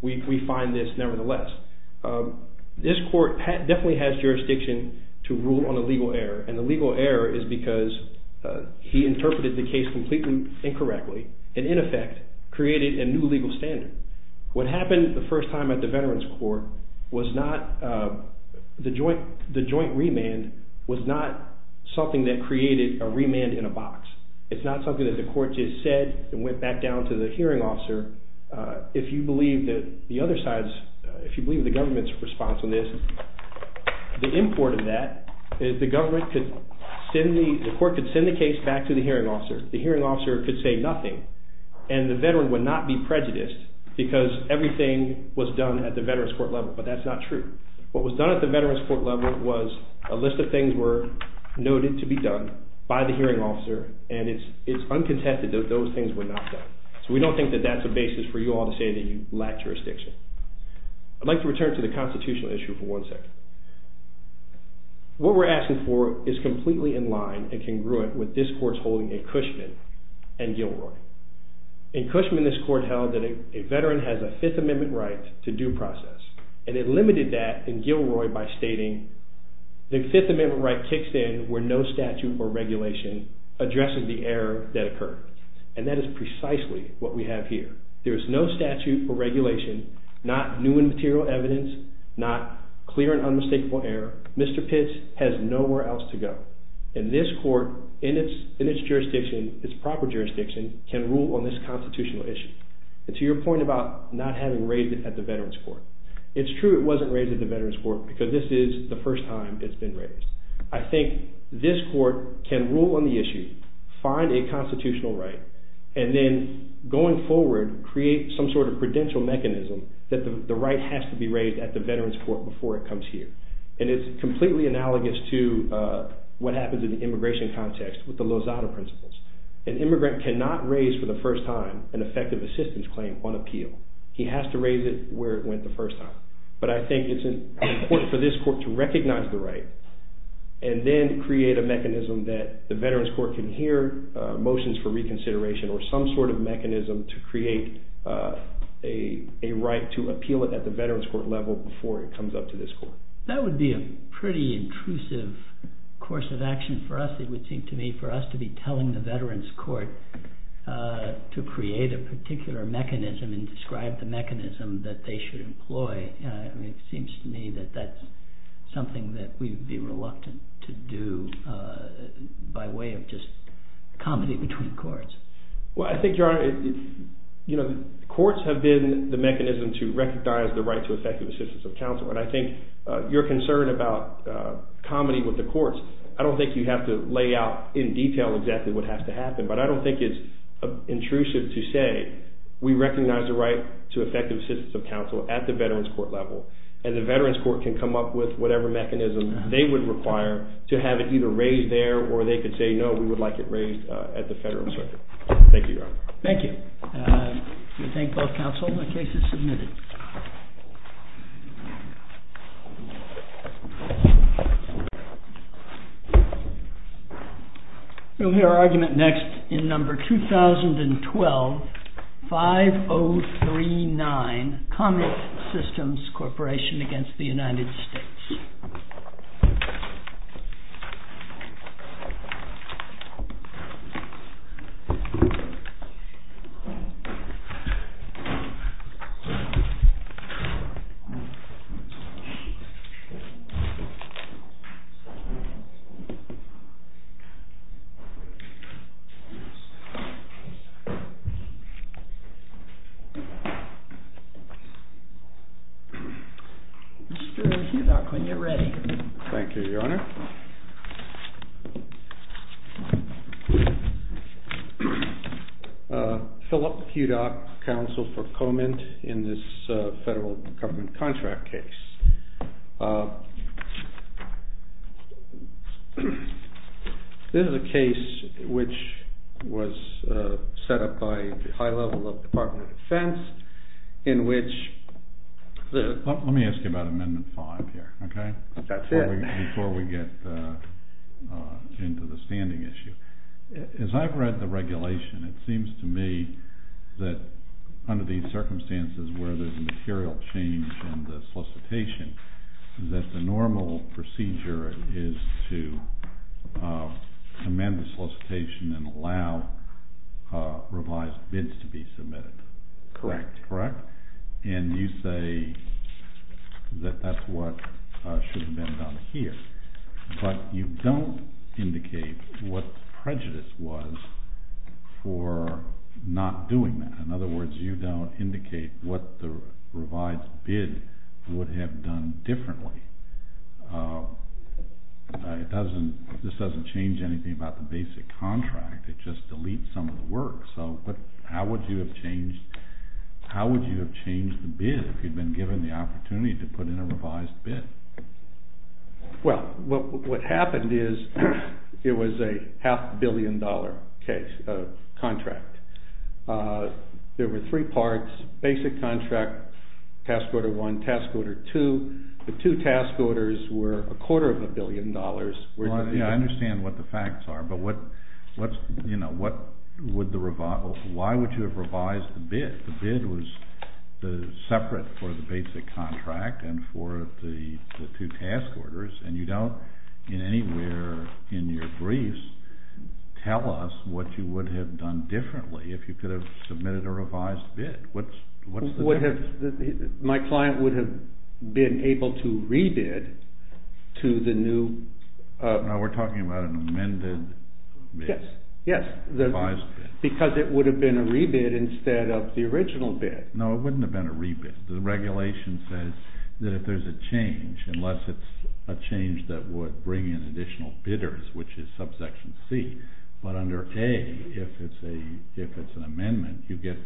We find this, nevertheless. This court definitely has jurisdiction to rule on a legal error, and the legal error is because he interpreted the case completely incorrectly, and in effect, created a new legal standard. What happened the first time at the Veterans Court was not... The joint remand was not something that created a remand in a box. It's not something that the court just said and went back down to the hearing officer. If you believe the government's response on this, the import of that is the court could send the case back to the hearing officer. The hearing officer could say nothing, and the veteran would not be prejudiced because everything was done at the Veterans Court level, but that's not true. What was done at the Veterans Court level was a list of things were noted to be done by the hearing officer, and it's uncontested that those things were not done. So we don't think that that's a basis for you all to say that you lack jurisdiction. I'd like to return to the constitutional issue for one second. What we're asking for is completely in line and congruent with this court's holding in Cushman and Gilroy. In Cushman, this court held that a veteran has a Fifth Amendment right to due process, and it limited that in Gilroy by stating the Fifth Amendment right kicks in where no statute or regulation addresses the error that occurred, and that is precisely what we have here. There is no statute or regulation, not new and material evidence, not clear and unmistakable error. Mr. Pitts has nowhere else to go, and this court in its jurisdiction, its proper jurisdiction, can rule on this constitutional issue, and to your point about not having raised it at the Veterans Court, it's true it wasn't raised at the Veterans Court because this is the first time it's been raised. I think this court can rule on the issue, find a constitutional right, and then going forward create some sort of credential mechanism that the right has to be raised at the Veterans Court before it comes here, and it's completely analogous to what happens in the immigration context with the Lozada Principles. An immigrant cannot raise for the first time an effective assistance claim on appeal. He has to raise it where it went the first time, but I think it's important for this court to recognize the right, and then create a mechanism that the Veterans Court can hear motions for reconsideration or some sort of mechanism to create a right to appeal it at the Veterans Court level before it comes up to this court. That would be a pretty intrusive course of action for us, it would seem to me, for us to be telling the Veterans Court to create a particular mechanism and describe the mechanism that they should employ. It seems to me that that's something that we'd be reluctant to do by way of just comedy between courts. Well, I think, Your Honor, you know, courts have been the mechanism to recognize the right to effective assistance of counsel, and I think your concern about comedy with the courts, I don't think you have to lay out in detail exactly what has to happen, but I don't think it's intrusive to say we recognize the right to effective assistance of counsel at the Veterans Court level, and the Veterans Court can come up with whatever mechanism they would require to have it either raised there, or they could say, no, we would like it raised at the federal circuit. Thank you, Your Honor. Thank you. We thank both counsel. The case is submitted. We'll hear our argument next in number 2012-5039, Comet Systems Corporation against the United States. Mr. Hudock, when you're ready. Thank you, Your Honor. Philip Hudock, counsel for Comet in this federal government contract case. This is a case which was set up by the high level of the Department of Defense in which the- Let me ask you about Amendment 5 here, okay? That's it. Before we get into the standing issue, as I've read the regulation, it seems to me that under these circumstances where there's a material change in the solicitation, that the normal procedure is to amend the solicitation and allow revised bids to be submitted. Correct. Correct? And you say that that's what should have been done here, but you don't indicate what the prejudice was for not doing that. In other words, you don't indicate what the revised bid would have done differently. This doesn't change anything about the basic contract. It just deletes some of the work. So how would you have changed the bid if you'd been given the opportunity to put in a revised bid? Well, what happened is it was a half-billion-dollar contract. There were three parts, basic contract, task order one, task order two. The two task orders were a quarter of a billion dollars. I understand what the facts are, but why would you have revised the bid? The bid was separate for the basic contract and for the two task orders, and you don't anywhere in your briefs tell us what you would have done differently if you could have submitted a revised bid. What's the difference? My client would have been able to re-bid to the new... No, we're talking about an amended bid. Yes, because it would have been a re-bid instead of the original bid. No, it wouldn't have been a re-bid. The regulation says that if there's a change, unless it's a change that would bring in additional bidders, which is subsection C, but under A, if it's an amendment, you get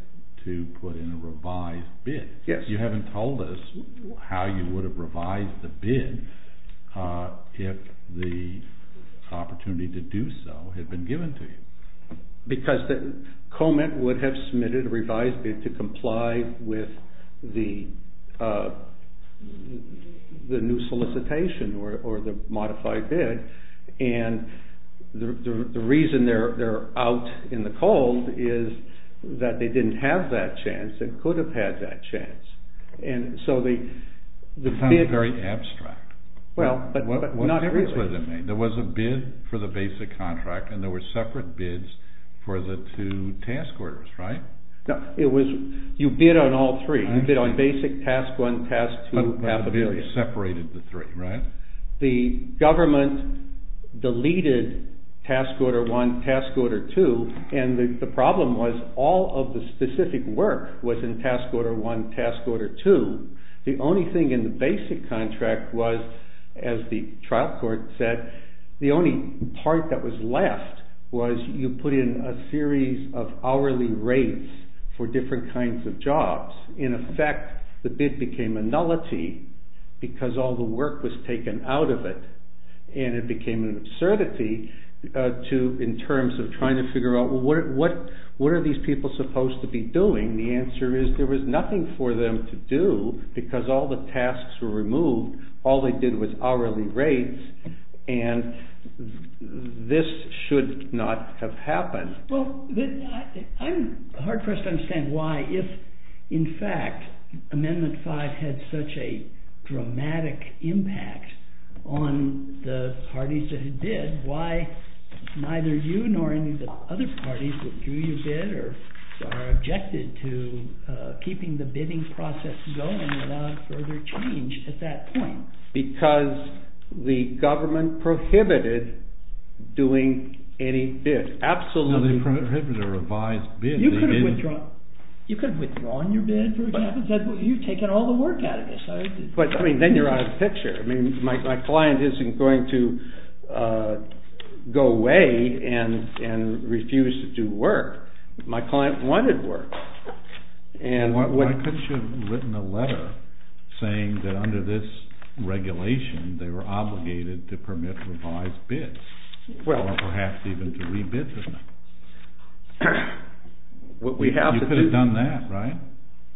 to put in a revised bid. Yes. You haven't told us how you would have revised the bid if the opportunity to do so had been given to you. Because the comment would have submitted a revised bid to comply with the new solicitation or the modified bid, and the reason they're out in the cold is that they didn't have that chance and could have had that chance. And so the... It sounds very abstract. Well, but not really. There was a bid for the basic contract, and there were separate bids for the two task orders, right? No, it was... You bid on all three. You bid on basic, task one, task two, half a billion. Separated the three, right? The government deleted task order one, task order two, and the problem was all of the specific work was in task order one, task order two. The only thing in the basic contract was, as the trial court said, the only part that was left was you put in a series of hourly rates for different kinds of jobs. In effect, the bid became a nullity because all the work was taken out of it, and it became an absurdity in terms of trying to figure out what are these people supposed to be doing? The answer is there was nothing for them to do because all the tasks were removed. All they did was hourly rates, and this should not have happened. Well, I'm hard-pressed to understand why, if, in fact, Amendment 5 had such a dramatic impact on the parties that had bid, why neither you nor any of the other parties that drew your bid are objected to keeping the bidding process going without further change at that point? Because the government prohibited doing any bid. They prohibited a revised bid. You could have withdrawn your bid, for example. You've taken all the work out of this. But, I mean, then you're out of the picture. I mean, my client isn't going to go away and refuse to do work. My client wanted work. Why couldn't you have written a letter saying that under this regulation they were obligated to permit revised bids, or perhaps even to re-bid them? You could have done that, right?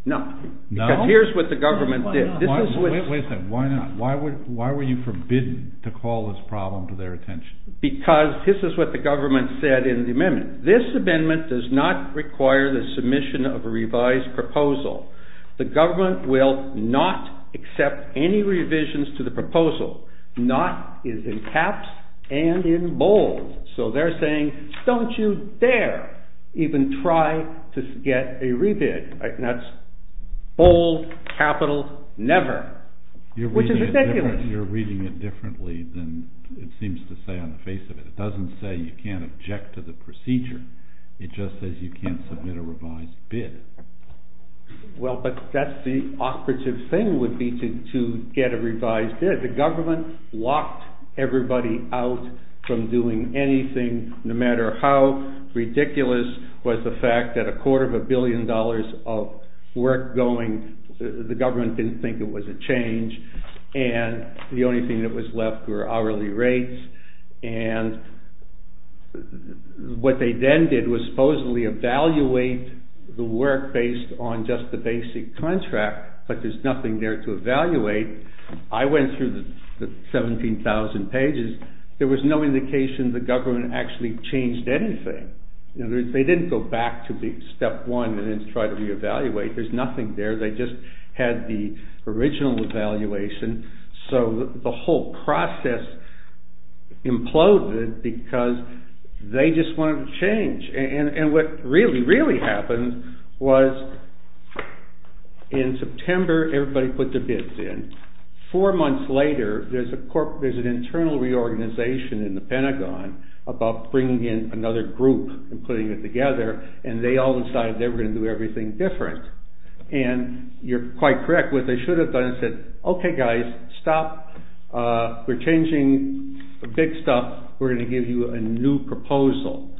No. Because here's what the government did. Wait a second. Why not? Why were you forbidden to call this problem to their attention? Because this is what the government said in the amendment. This amendment does not require the submission of a revised proposal. The government will not accept any revisions to the proposal. Not is in caps and in bold. So they're saying, don't you dare even try to get a re-bid. And that's bold, capital, never, which is ridiculous. You're reading it differently than it seems to say on the face of it. It doesn't say you can't object to the procedure. It just says you can't submit a revised bid. Well, but that's the operative thing would be to get a revised bid. The government locked everybody out from doing anything, no matter how ridiculous was the fact that a quarter of a billion dollars of work going, the government didn't think it was a change. And the only thing that was left were hourly rates. And what they then did was supposedly evaluate the work based on just the basic contract. But there's nothing there to evaluate. I went through the 17,000 pages. There was no indication the government actually changed anything. They didn't go back to step one and then try to re-evaluate. There's nothing there. They just had the original evaluation. So the whole process imploded because they just wanted to change. And what really, really happened was in September, everybody put their bids in. Four months later, there's an internal reorganization in the Pentagon about bringing in another group and putting it together. And they all decided they were going to do everything different. And you're quite correct. What they should have done is said, okay, guys, stop, we're changing the big stuff. We're going to give you a new proposal.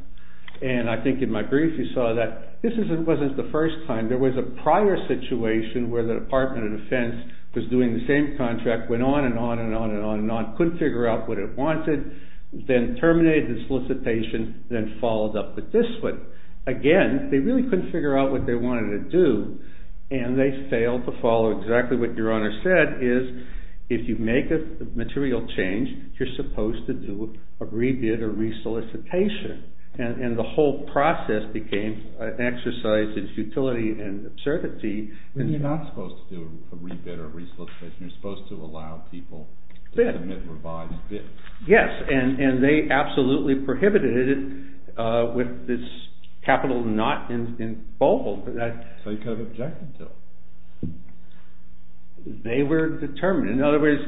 And I think in my brief, you saw that this wasn't the first time. There was a prior situation where the Department of Defense was doing the same contract. Went on and on and on and on and on. Couldn't figure out what it wanted. Then terminated the solicitation, then followed up with this one. Again, they really couldn't figure out what they wanted to do. And they failed to follow exactly what your Honor said, is if you make a material change, you're supposed to do a re-bid or re-solicitation. And the whole process became an exercise in futility and absurdity. And you're not supposed to do a re-bid or re-solicitation. You're supposed to allow people to submit revised bids. Yes. And they absolutely prohibited it with this capital not in bold. But that's. So you could have objected to it. They were determined. In other words,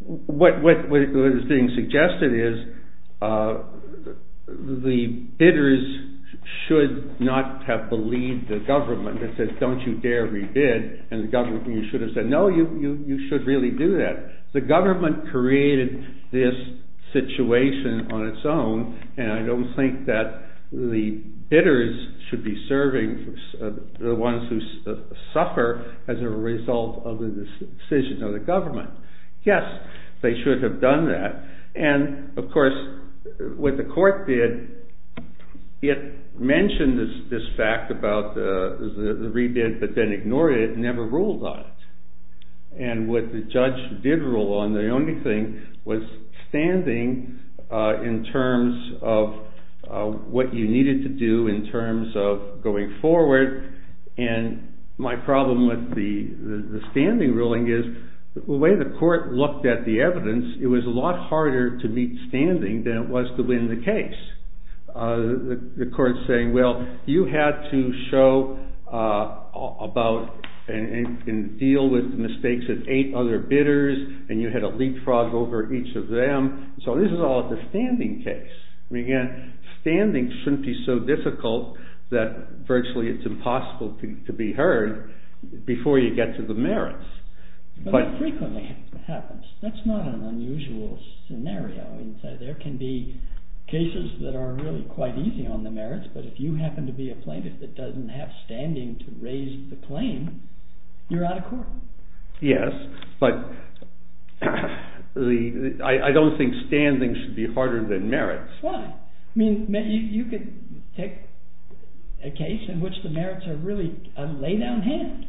what is being suggested is the bidders should not have believed the government that says, don't you dare re-bid. And the government, you should have said, no, you should really do that. The government created this situation on its own. And I don't think that the bidders should be serving the ones who suffer as a result of the decision of the government. Yes, they should have done that. And of course, what the court did, it mentioned this fact about the re-bid, but then ignored it and never ruled on it. And what the judge did rule on, the only thing was standing in terms of what you needed to do in terms of going forward. And my problem with the standing ruling is the way the court looked at the evidence, it was a lot harder to meet standing than it was to win the case. The court's saying, well, you had to show about and deal with the mistakes of eight other bidders, and you had to leapfrog over each of them. So this is all the standing case. I mean, again, standing shouldn't be so difficult that virtually it's impossible to be heard before you get to the merits. But it frequently happens. That's not an unusual scenario. There can be cases that are really quite easy on the merits, but if you happen to be a plaintiff that doesn't have standing to raise the claim, you're out of court. Yes, but I don't think standing should be harder than merits. Well, I mean, you could take a case in which the merits are really a lay-down hand.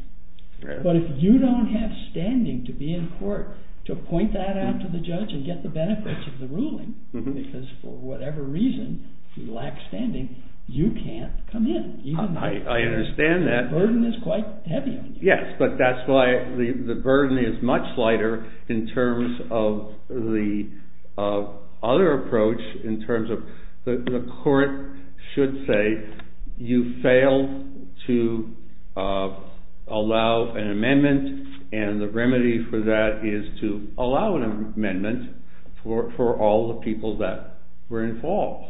But if you don't have standing to be in court, to point that out to the judge and get the benefits of the ruling, because for whatever reason you lack standing, you can't come in, even though the burden is quite heavy on you. Yes, but that's why the burden is much lighter in terms of the other approach in terms of the court should say you failed to allow an amendment, and the remedy for that is to allow an amendment for all the people that were involved.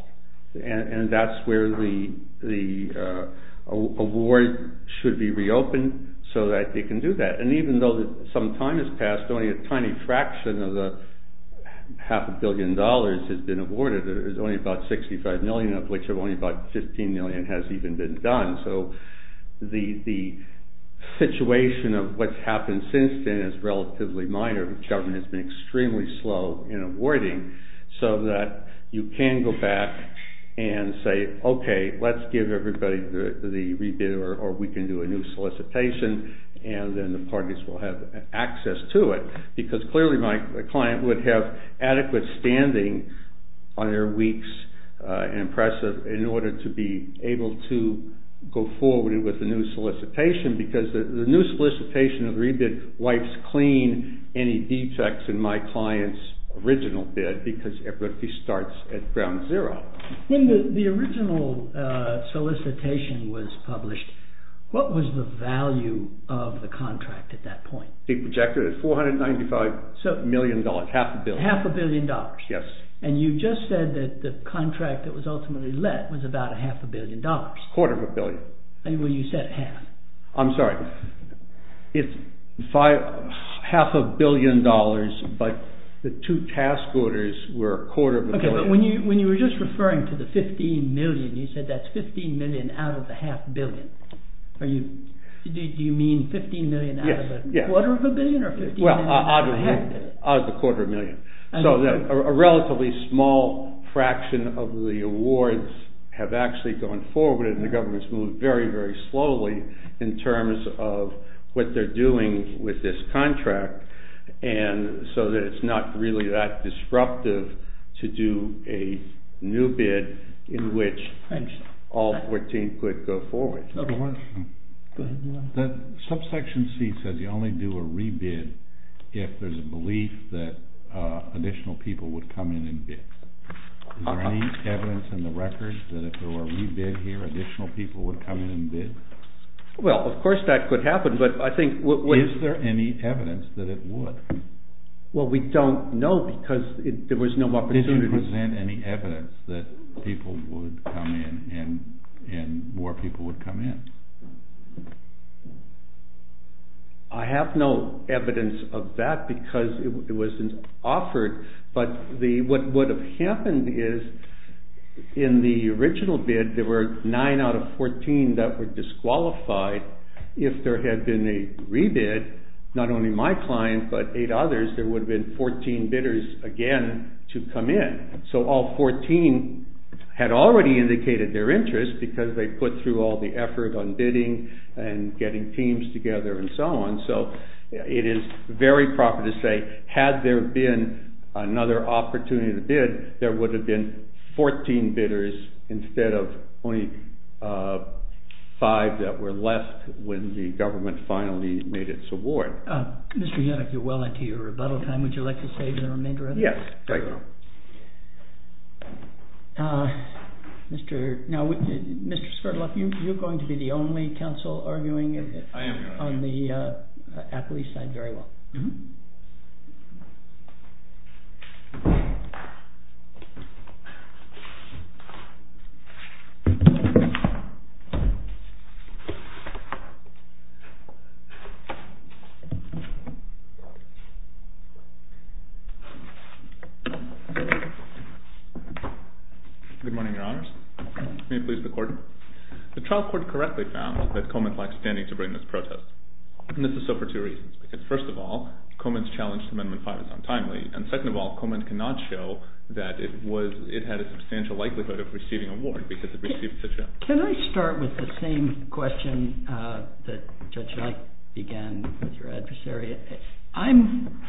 And that's where the award should be reopened so that they can do that. And even though some time has passed, only a tiny fraction of the half a billion dollars has been awarded. There's only about $65 million of which only about $15 million has even been done. So the situation of what's happened since then is relatively minor. The government has been extremely slow in awarding so that you can go back and say, okay, let's give everybody the rebid, or we can do a new solicitation, and then the parties will have access to it. Because clearly my client would have adequate standing on their weeks in impressive in order to be able to go forward with a new solicitation, because the new solicitation of rebid wipes clean any defects in my client's original bid, because everybody starts at ground zero. When the original solicitation was published, what was the value of the contract at that point? It projected at $495 million, half a billion. Half a billion dollars. Yes. And you just said that the contract that was ultimately let was about a half a billion dollars. Quarter of a billion. Well, you said half. I'm sorry. It's half a billion dollars, but the two task orders were a quarter of a billion. Okay, but when you were just referring to the $15 million, you said that's $15 million out of the half a billion. Are you, do you mean $15 million out of a quarter of a billion, or $15 million out of a half a billion? Well, out of a quarter of a million. So, a relatively small fraction of the awards have actually gone forward, and the government's moved very, very slowly in terms of what they're doing with this contract, and so that it's not really that disruptive to do a new bid in which all 14 could go forward. I have a question. Go ahead, you're on. The subsection C says you only do a re-bid if there's a belief that additional people would come in and bid. Is there any evidence in the records that if there were a re-bid here, additional people would come in and bid? Well, of course that could happen, but I think what... Is there any evidence that it would? Well, we don't know because there was no opportunity... Is there any evidence that people would come in, and more people would come in? I have no evidence of that because it wasn't offered, but what would have happened is, in the original bid, there were nine out of 14 that were disqualified. If there had been a re-bid, not only my client, but eight others, there would have been 14 bidders again to come in. So, all 14 had already indicated their interest because they put through all the effort on bidding and getting teams together and so on. So, it is very proper to say, had there been another opportunity to bid, there would have been 14 bidders instead of only five that were left when the government finally made its award. Mr. Yannick, you're well into your rebuttal time. Would you like to say the remainder of it? Yes, thank you. Now, Mr. Skirloff, you're going to be the only counsel arguing on the athlete's side very well. Good morning, Your Honors. May it please the Court. The trial court correctly found that Coleman lacked standing to bring this protest. And this is so for two reasons. Because first of all, Coleman's challenge to Amendment 5 is untimely. And second of all, Coleman cannot show that it was, it had a substantial likelihood of receiving award because it received such a... Can I start with the same question that Judge Yannick began with your adversary? I'm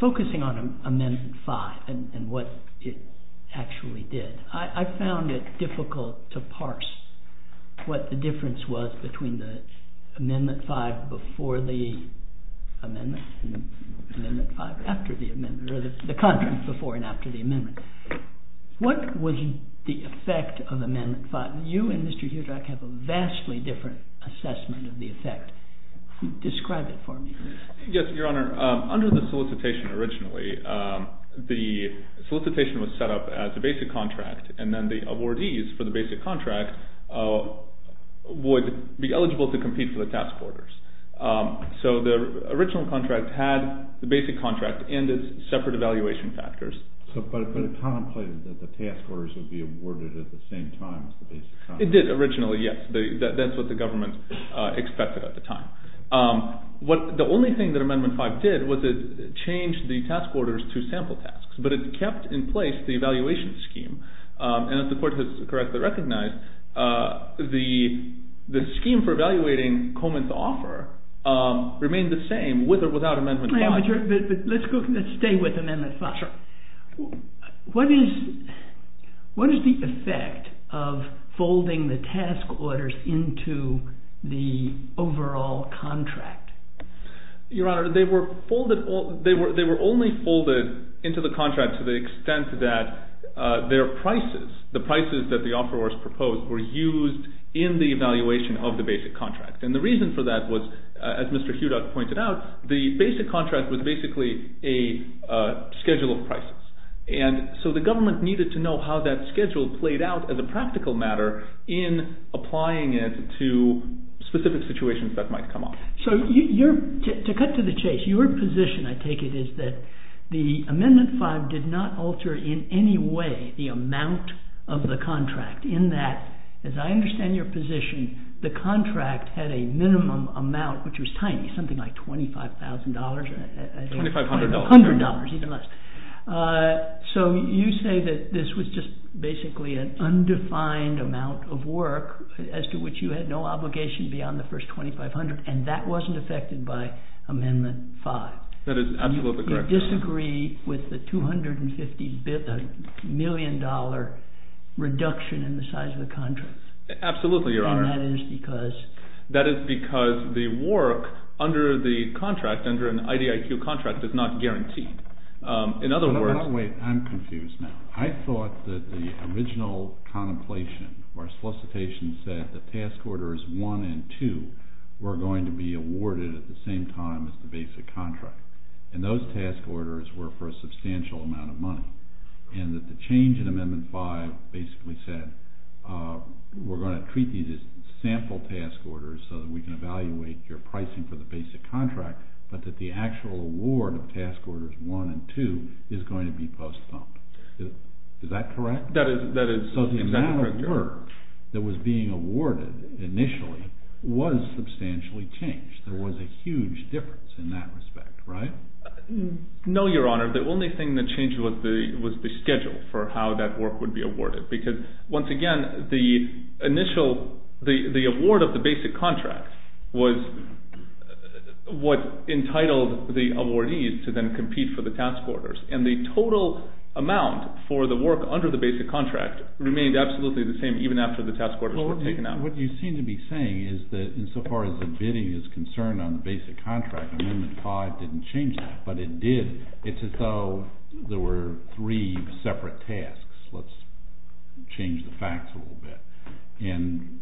focusing on Amendment 5 and what it actually did. I found it difficult to parse what the difference was between the Amendment 5 before the amendment, and Amendment 5 after the amendment, or the contract before and after the amendment. What was the effect of Amendment 5? And you and Mr. Hudrak have a vastly different assessment of the effect. Describe it for me. Yes, Your Honor. Under the solicitation originally, the solicitation was set up as a basic contract. And then the awardees for the basic contract would be eligible to compete for the task orders. So the original contract had the basic contract and its separate evaluation factors. But it contemplated that the task orders would be awarded at the same time as the basic contract. It did originally, yes. That's what the government expected at the time. The only thing that Amendment 5 did was it changed the task orders to sample tasks. But it kept in place the evaluation scheme. And as the court has correctly recognized, the scheme for evaluating Coleman's offer remained the same with or without Amendment 5. But let's stay with Amendment 5. What is the effect of folding the task orders into the overall contract? Your Honor, they were only folded into the contract to the extent that their prices, the prices that the offerors proposed, were used in the evaluation of the basic contract. And the reason for that was, as Mr. Hudrak pointed out, the basic contract was basically a schedule of prices. And so the government needed to know how that schedule played out as a practical matter in applying it to specific situations that might come up. So to cut to the chase, your position, I take it, is that the Amendment 5 did not alter in any way the amount of the contract in that, as I understand your position, the contract had a minimum amount, which was tiny, something like $25,000. $2,500. $100, even less. So you say that this was just basically an undefined amount of work as to which you had no obligation beyond the first $2,500. And that wasn't affected by Amendment 5. That is absolutely correct, Your Honor. You disagree with the $250 million reduction in the size of the contract? Absolutely, Your Honor. And that is because? That is because the work under the contract, under an IDIQ contract, is not guaranteed. In other words... Wait, I'm confused now. I thought that the original contemplation, or solicitation, said that task orders 1 and 2 were going to be awarded at the same time as the basic contract. And those task orders were for a substantial amount of money. And that the change in Amendment 5 basically said, we're going to treat these as sample task orders so that we can evaluate your pricing for the basic contract, but that the actual award of task orders 1 and 2 is going to be post-thump. Is that correct? That is exactly correct, Your Honor. So the amount of work that was being awarded initially was substantially changed. There was a huge difference in that respect, right? No, Your Honor. The only thing that changed was the schedule for how that work would be awarded. Because, once again, the award of the basic contract was what entitled the awardees to then compete for the task orders. And the total amount for the work under the basic contract remained absolutely the same, even after the task orders were taken out. What you seem to be saying is that, insofar as the bidding is concerned on the basic contract, Amendment 5 didn't change that. But it did. It's as though there were three separate tasks. Let's change the facts a little bit. And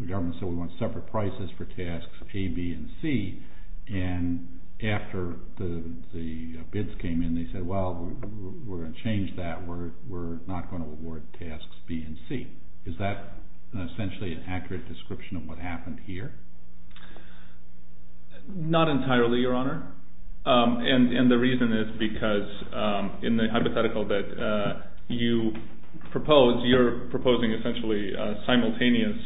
the government said we want separate prices for tasks A, B, and C. And after the bids came in, they said, well, we're going to change that. We're not going to award tasks B and C. Is that essentially an accurate description of what happened here? Not entirely, Your Honor. And the reason is because, in the hypothetical that you propose, you're proposing essentially a simultaneous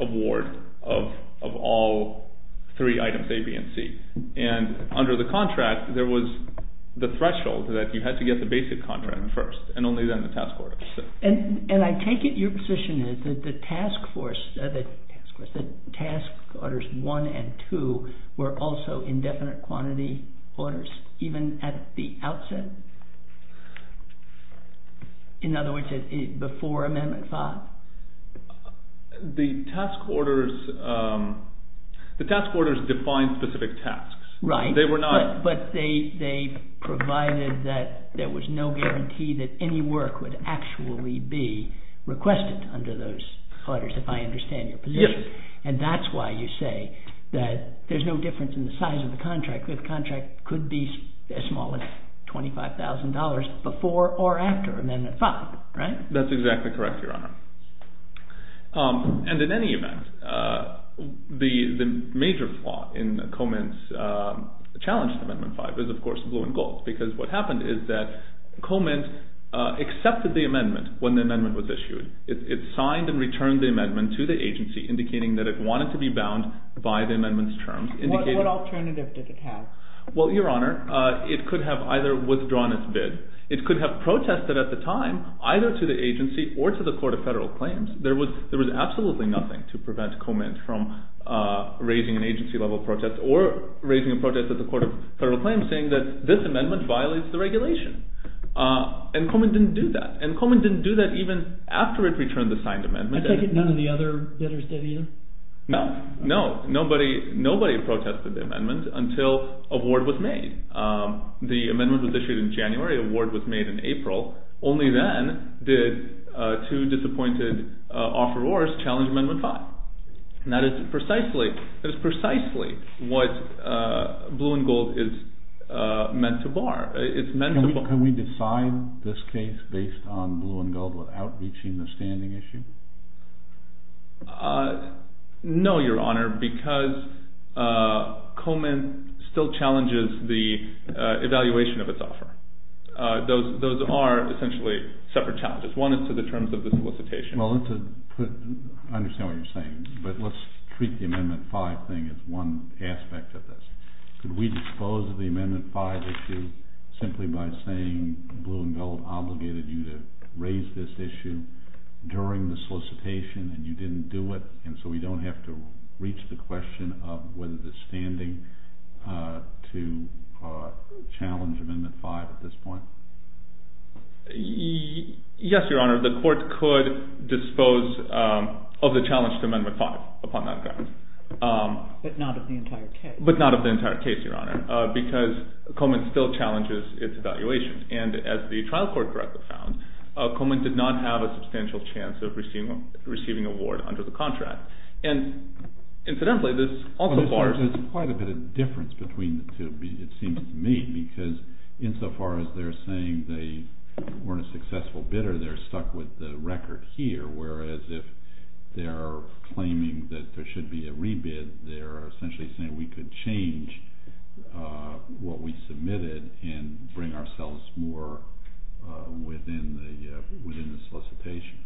award of all three items, A, B, and C. And under the contract, there was the threshold that you had to get the basic contract first, and only then the task order. And I take it your position is that the task orders 1 and 2 were also indefinite quantity orders, even at the outset? In other words, before Amendment 5? The task orders defined specific tasks. Right. They were not... ...actually be requested under those orders, if I understand your position. Yes. And that's why you say that there's no difference in the size of the contract. The contract could be as small as $25,000 before or after Amendment 5, right? That's exactly correct, Your Honor. And in any event, the major flaw in Coleman's challenge to Amendment 5 is, of course, blue and gold. Because what happened is that Coleman accepted the amendment when the amendment was issued. It signed and returned the amendment to the agency, indicating that it wanted to be bound by the amendment's terms. What alternative did it have? Well, Your Honor, it could have either withdrawn its bid. It could have protested at the time, either to the agency or to the Court of Federal Claims. There was absolutely nothing to prevent Coleman from raising an agency-level protest or raising a protest at the Court of Federal Claims, saying that this amendment violates the regulation. And Coleman didn't do that. And Coleman didn't do that even after it returned the signed amendment. I take it none of the other bidders did, either? No, no. Nobody protested the amendment until a word was made. The amendment was issued in January. A word was made in April. Only then did two disappointed offerors challenge Amendment 5. And that is precisely what Blue and Gold is meant to bar. Can we decide this case based on Blue and Gold without reaching the standing issue? No, Your Honor, because Coleman still challenges the evaluation of its offer. Those are essentially separate challenges. One is to the terms of the solicitation. Well, I understand what you're saying. But let's treat the Amendment 5 thing as one aspect of this. Could we dispose of the Amendment 5 issue simply by saying Blue and Gold obligated you to raise this issue during the solicitation, and you didn't do it? And so we don't have to reach the question of whether it's standing to challenge Amendment 5 at this point? Yes, Your Honor. The court could dispose of the challenge to Amendment 5 upon that grounds. But not of the entire case. But not of the entire case, Your Honor, because Coleman still challenges its evaluations. And as the trial court correctly found, Coleman did not have a substantial chance of receiving an award under the contract. And incidentally, this also bars. There's quite a bit of difference between the two, it seems to me, because insofar as they're saying they weren't a successful bidder, they're stuck with the record here. Whereas if they're claiming that there should be a rebid, they're essentially saying we could change what we submitted and bring ourselves more within the solicitation.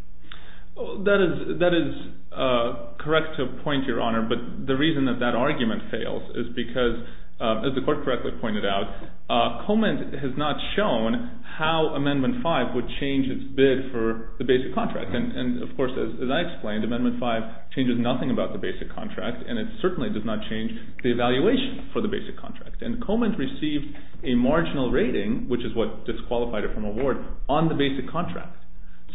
That is correct to a point, Your Honor. But the reason that that argument fails is because, as the court correctly pointed out, Coleman has not shown how Amendment 5 would change its bid for the basic contract. And of course, as I explained, Amendment 5 changes nothing about the basic contract. And it certainly does not change the evaluation for the basic contract. And Coleman received a marginal rating, which is what disqualified it from award, on the basic contract.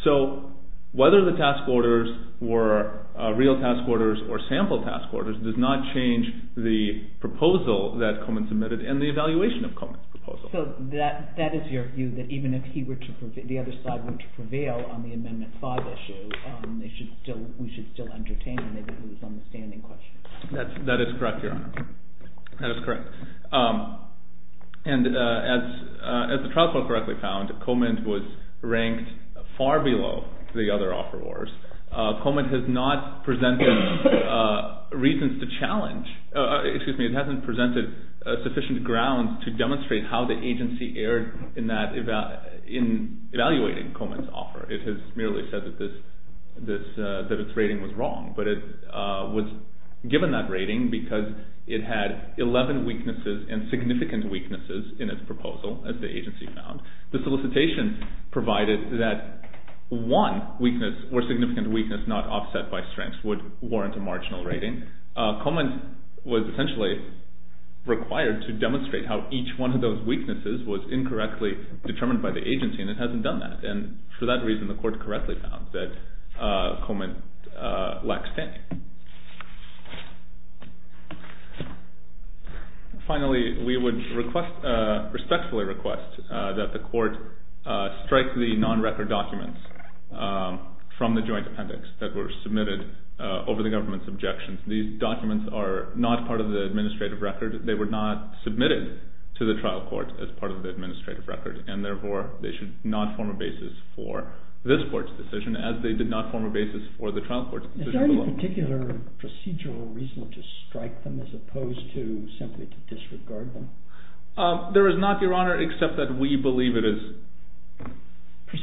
So whether the task orders were real task orders or sample task orders and the evaluation of Coleman's proposal. So that is your view, that even if the other side were to prevail on the Amendment 5 issue, we should still entertain them. They didn't lose on the standing question. That is correct, Your Honor. That is correct. And as the trial court correctly found, Coleman was ranked far below the other offerors. Coleman has not presented reasons to challenge. Excuse me, it hasn't presented sufficient ground to demonstrate how the agency erred in evaluating Coleman's offer. It has merely said that its rating was wrong. But it was given that rating because it had 11 weaknesses and significant weaknesses in its proposal, as the agency found. The solicitation provided that one weakness or significant weakness not offset by strengths would warrant a marginal rating. Coleman was essentially required to demonstrate how each one of those weaknesses was incorrectly determined by the agency, and it hasn't done that. And for that reason, the court correctly found that Coleman lacked standing. Finally, we would respectfully request that the court strike the non-record documents from the joint appendix that were submitted over the government's objections. These documents are not part of the administrative record. They were not submitted to the trial court as part of the administrative record. And therefore, they should not form a basis for this court's decision, as they did not form a basis for the trial court's decision. Is there any particular procedural reason to strike them as opposed to simply to disregard them? There is not, Your Honor, except that we believe it is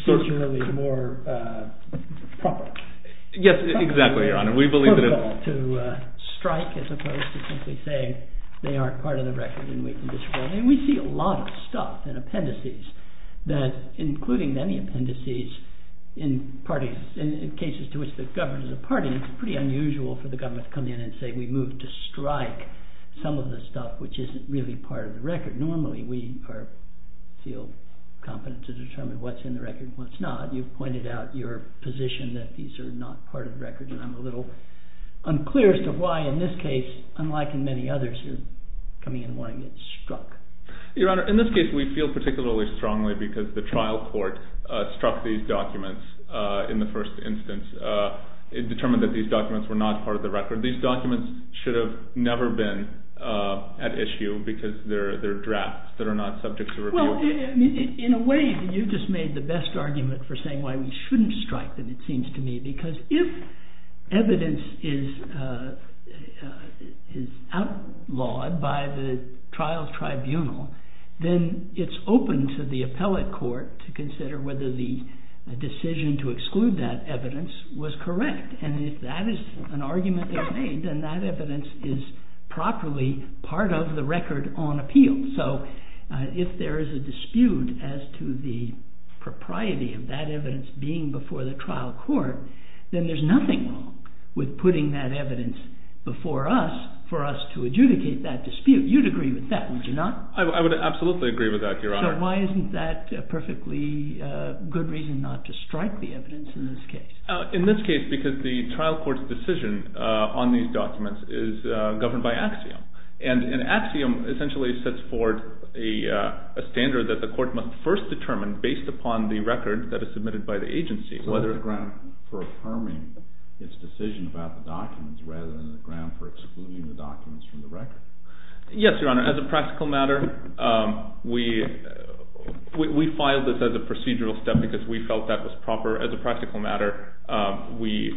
Procedurally more proper. Yes, exactly, Your Honor. To strike as opposed to simply saying they aren't part of the record and we can disregard them. And we see a lot of stuff in appendices that, including many appendices in cases to which the government is a party, it's pretty unusual for the government to come in and say we move to strike some of the stuff which isn't really part of the record. Normally, we feel competent to determine what's in the record and what's not. You've pointed out your position that these are not part of the record. And I'm a little unclear as to why, in this case, unlike in many others, you're coming in wanting it struck. Your Honor, in this case, we feel particularly strongly because the trial court struck these documents in the first instance. It determined that these documents were not part of the record. These documents should have never been at issue because they're drafts that are not subject to review. In a way, you just made the best argument for saying why we shouldn't strike, it seems to me. Because if evidence is outlawed by the trial tribunal, then it's open to the appellate court to consider whether the decision to exclude that evidence was correct. And if that is an argument that's made, then that evidence is properly part of the record on appeal. So if there is a dispute as to the propriety of that evidence being before the trial court, then there's nothing wrong with putting that evidence before us for us to adjudicate that dispute. You'd agree with that, would you not? I would absolutely agree with that, Your Honor. So why isn't that a perfectly good reason not to strike the evidence in this case? In this case, because the trial court's decision on these documents is governed by axiom. And an axiom essentially sets forth a standard that the court must first determine based upon the record that is submitted by the agency. So there's a ground for affirming its decision about the documents rather than a ground for excluding the documents from the record. Yes, Your Honor. As a practical matter, we filed this as a procedural step because we felt that was proper. As a practical matter, we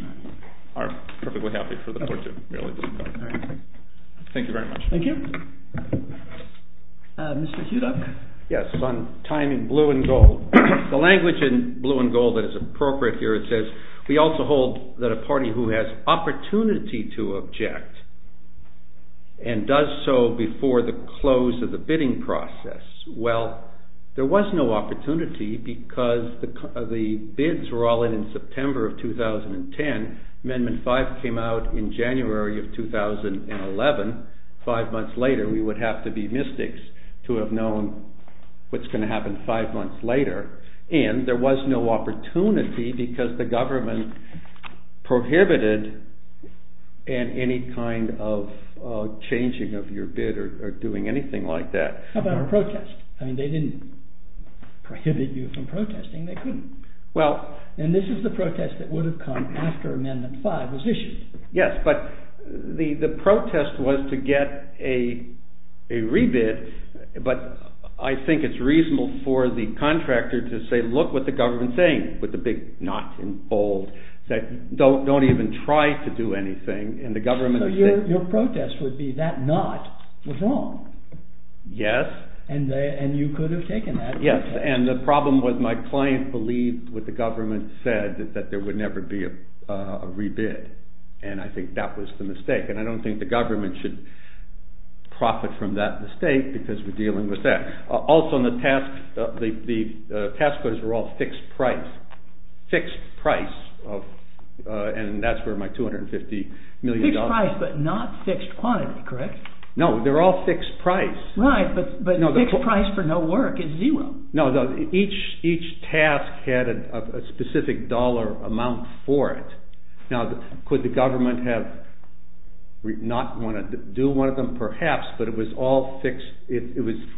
are perfectly happy for the court to merely do so. Thank you very much. Thank you. Mr. Hudock? Yes, on time in blue and gold. The language in blue and gold that is appropriate here, it says, we also hold that a party who has opportunity to object and does so before the close of the bidding process. Well, there was no opportunity because the bids were all in September of 2010. Amendment 5 came out in January of 2011. Five months later, we would have to be mystics to have known what's going to happen five months later. And there was no opportunity because the government prohibited any kind of changing of your bid or doing anything like that. How about a protest? I mean, they didn't prohibit you from protesting. They couldn't. And this is the protest that would have come after Amendment 5 was issued. Yes, but the protest was to get a rebid. But I think it's reasonable for the contractor to say, look what the government's saying, with the big not in bold. Say, don't even try to do anything. And the government is saying. So your protest would be that not was wrong. Yes. And you could have taken that. Yes, and the problem was my client believed what the government said is that there would never be a rebid. And I think that was the mistake. And I don't think the government should profit from that mistake because we're dealing with that. Also, the task orders were all fixed price. Fixed price. And that's where my $250 million. Fixed price, but not fixed quantity, correct? No, they're all fixed price. Right, but fixed price for no work is zero. No, each task had a specific dollar amount for it. Now, could the government have not wanted to do one of them? Perhaps, but it was all fixed. If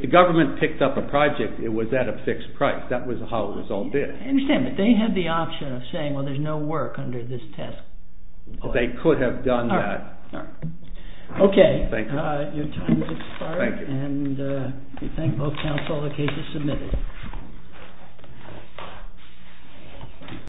the government picked up a project, it was at a fixed price. That was how it was all bid. I understand, but they had the option of saying, well, there's no work under this task. They could have done that. OK, your time has expired. And we thank both counsel. The case is submitted.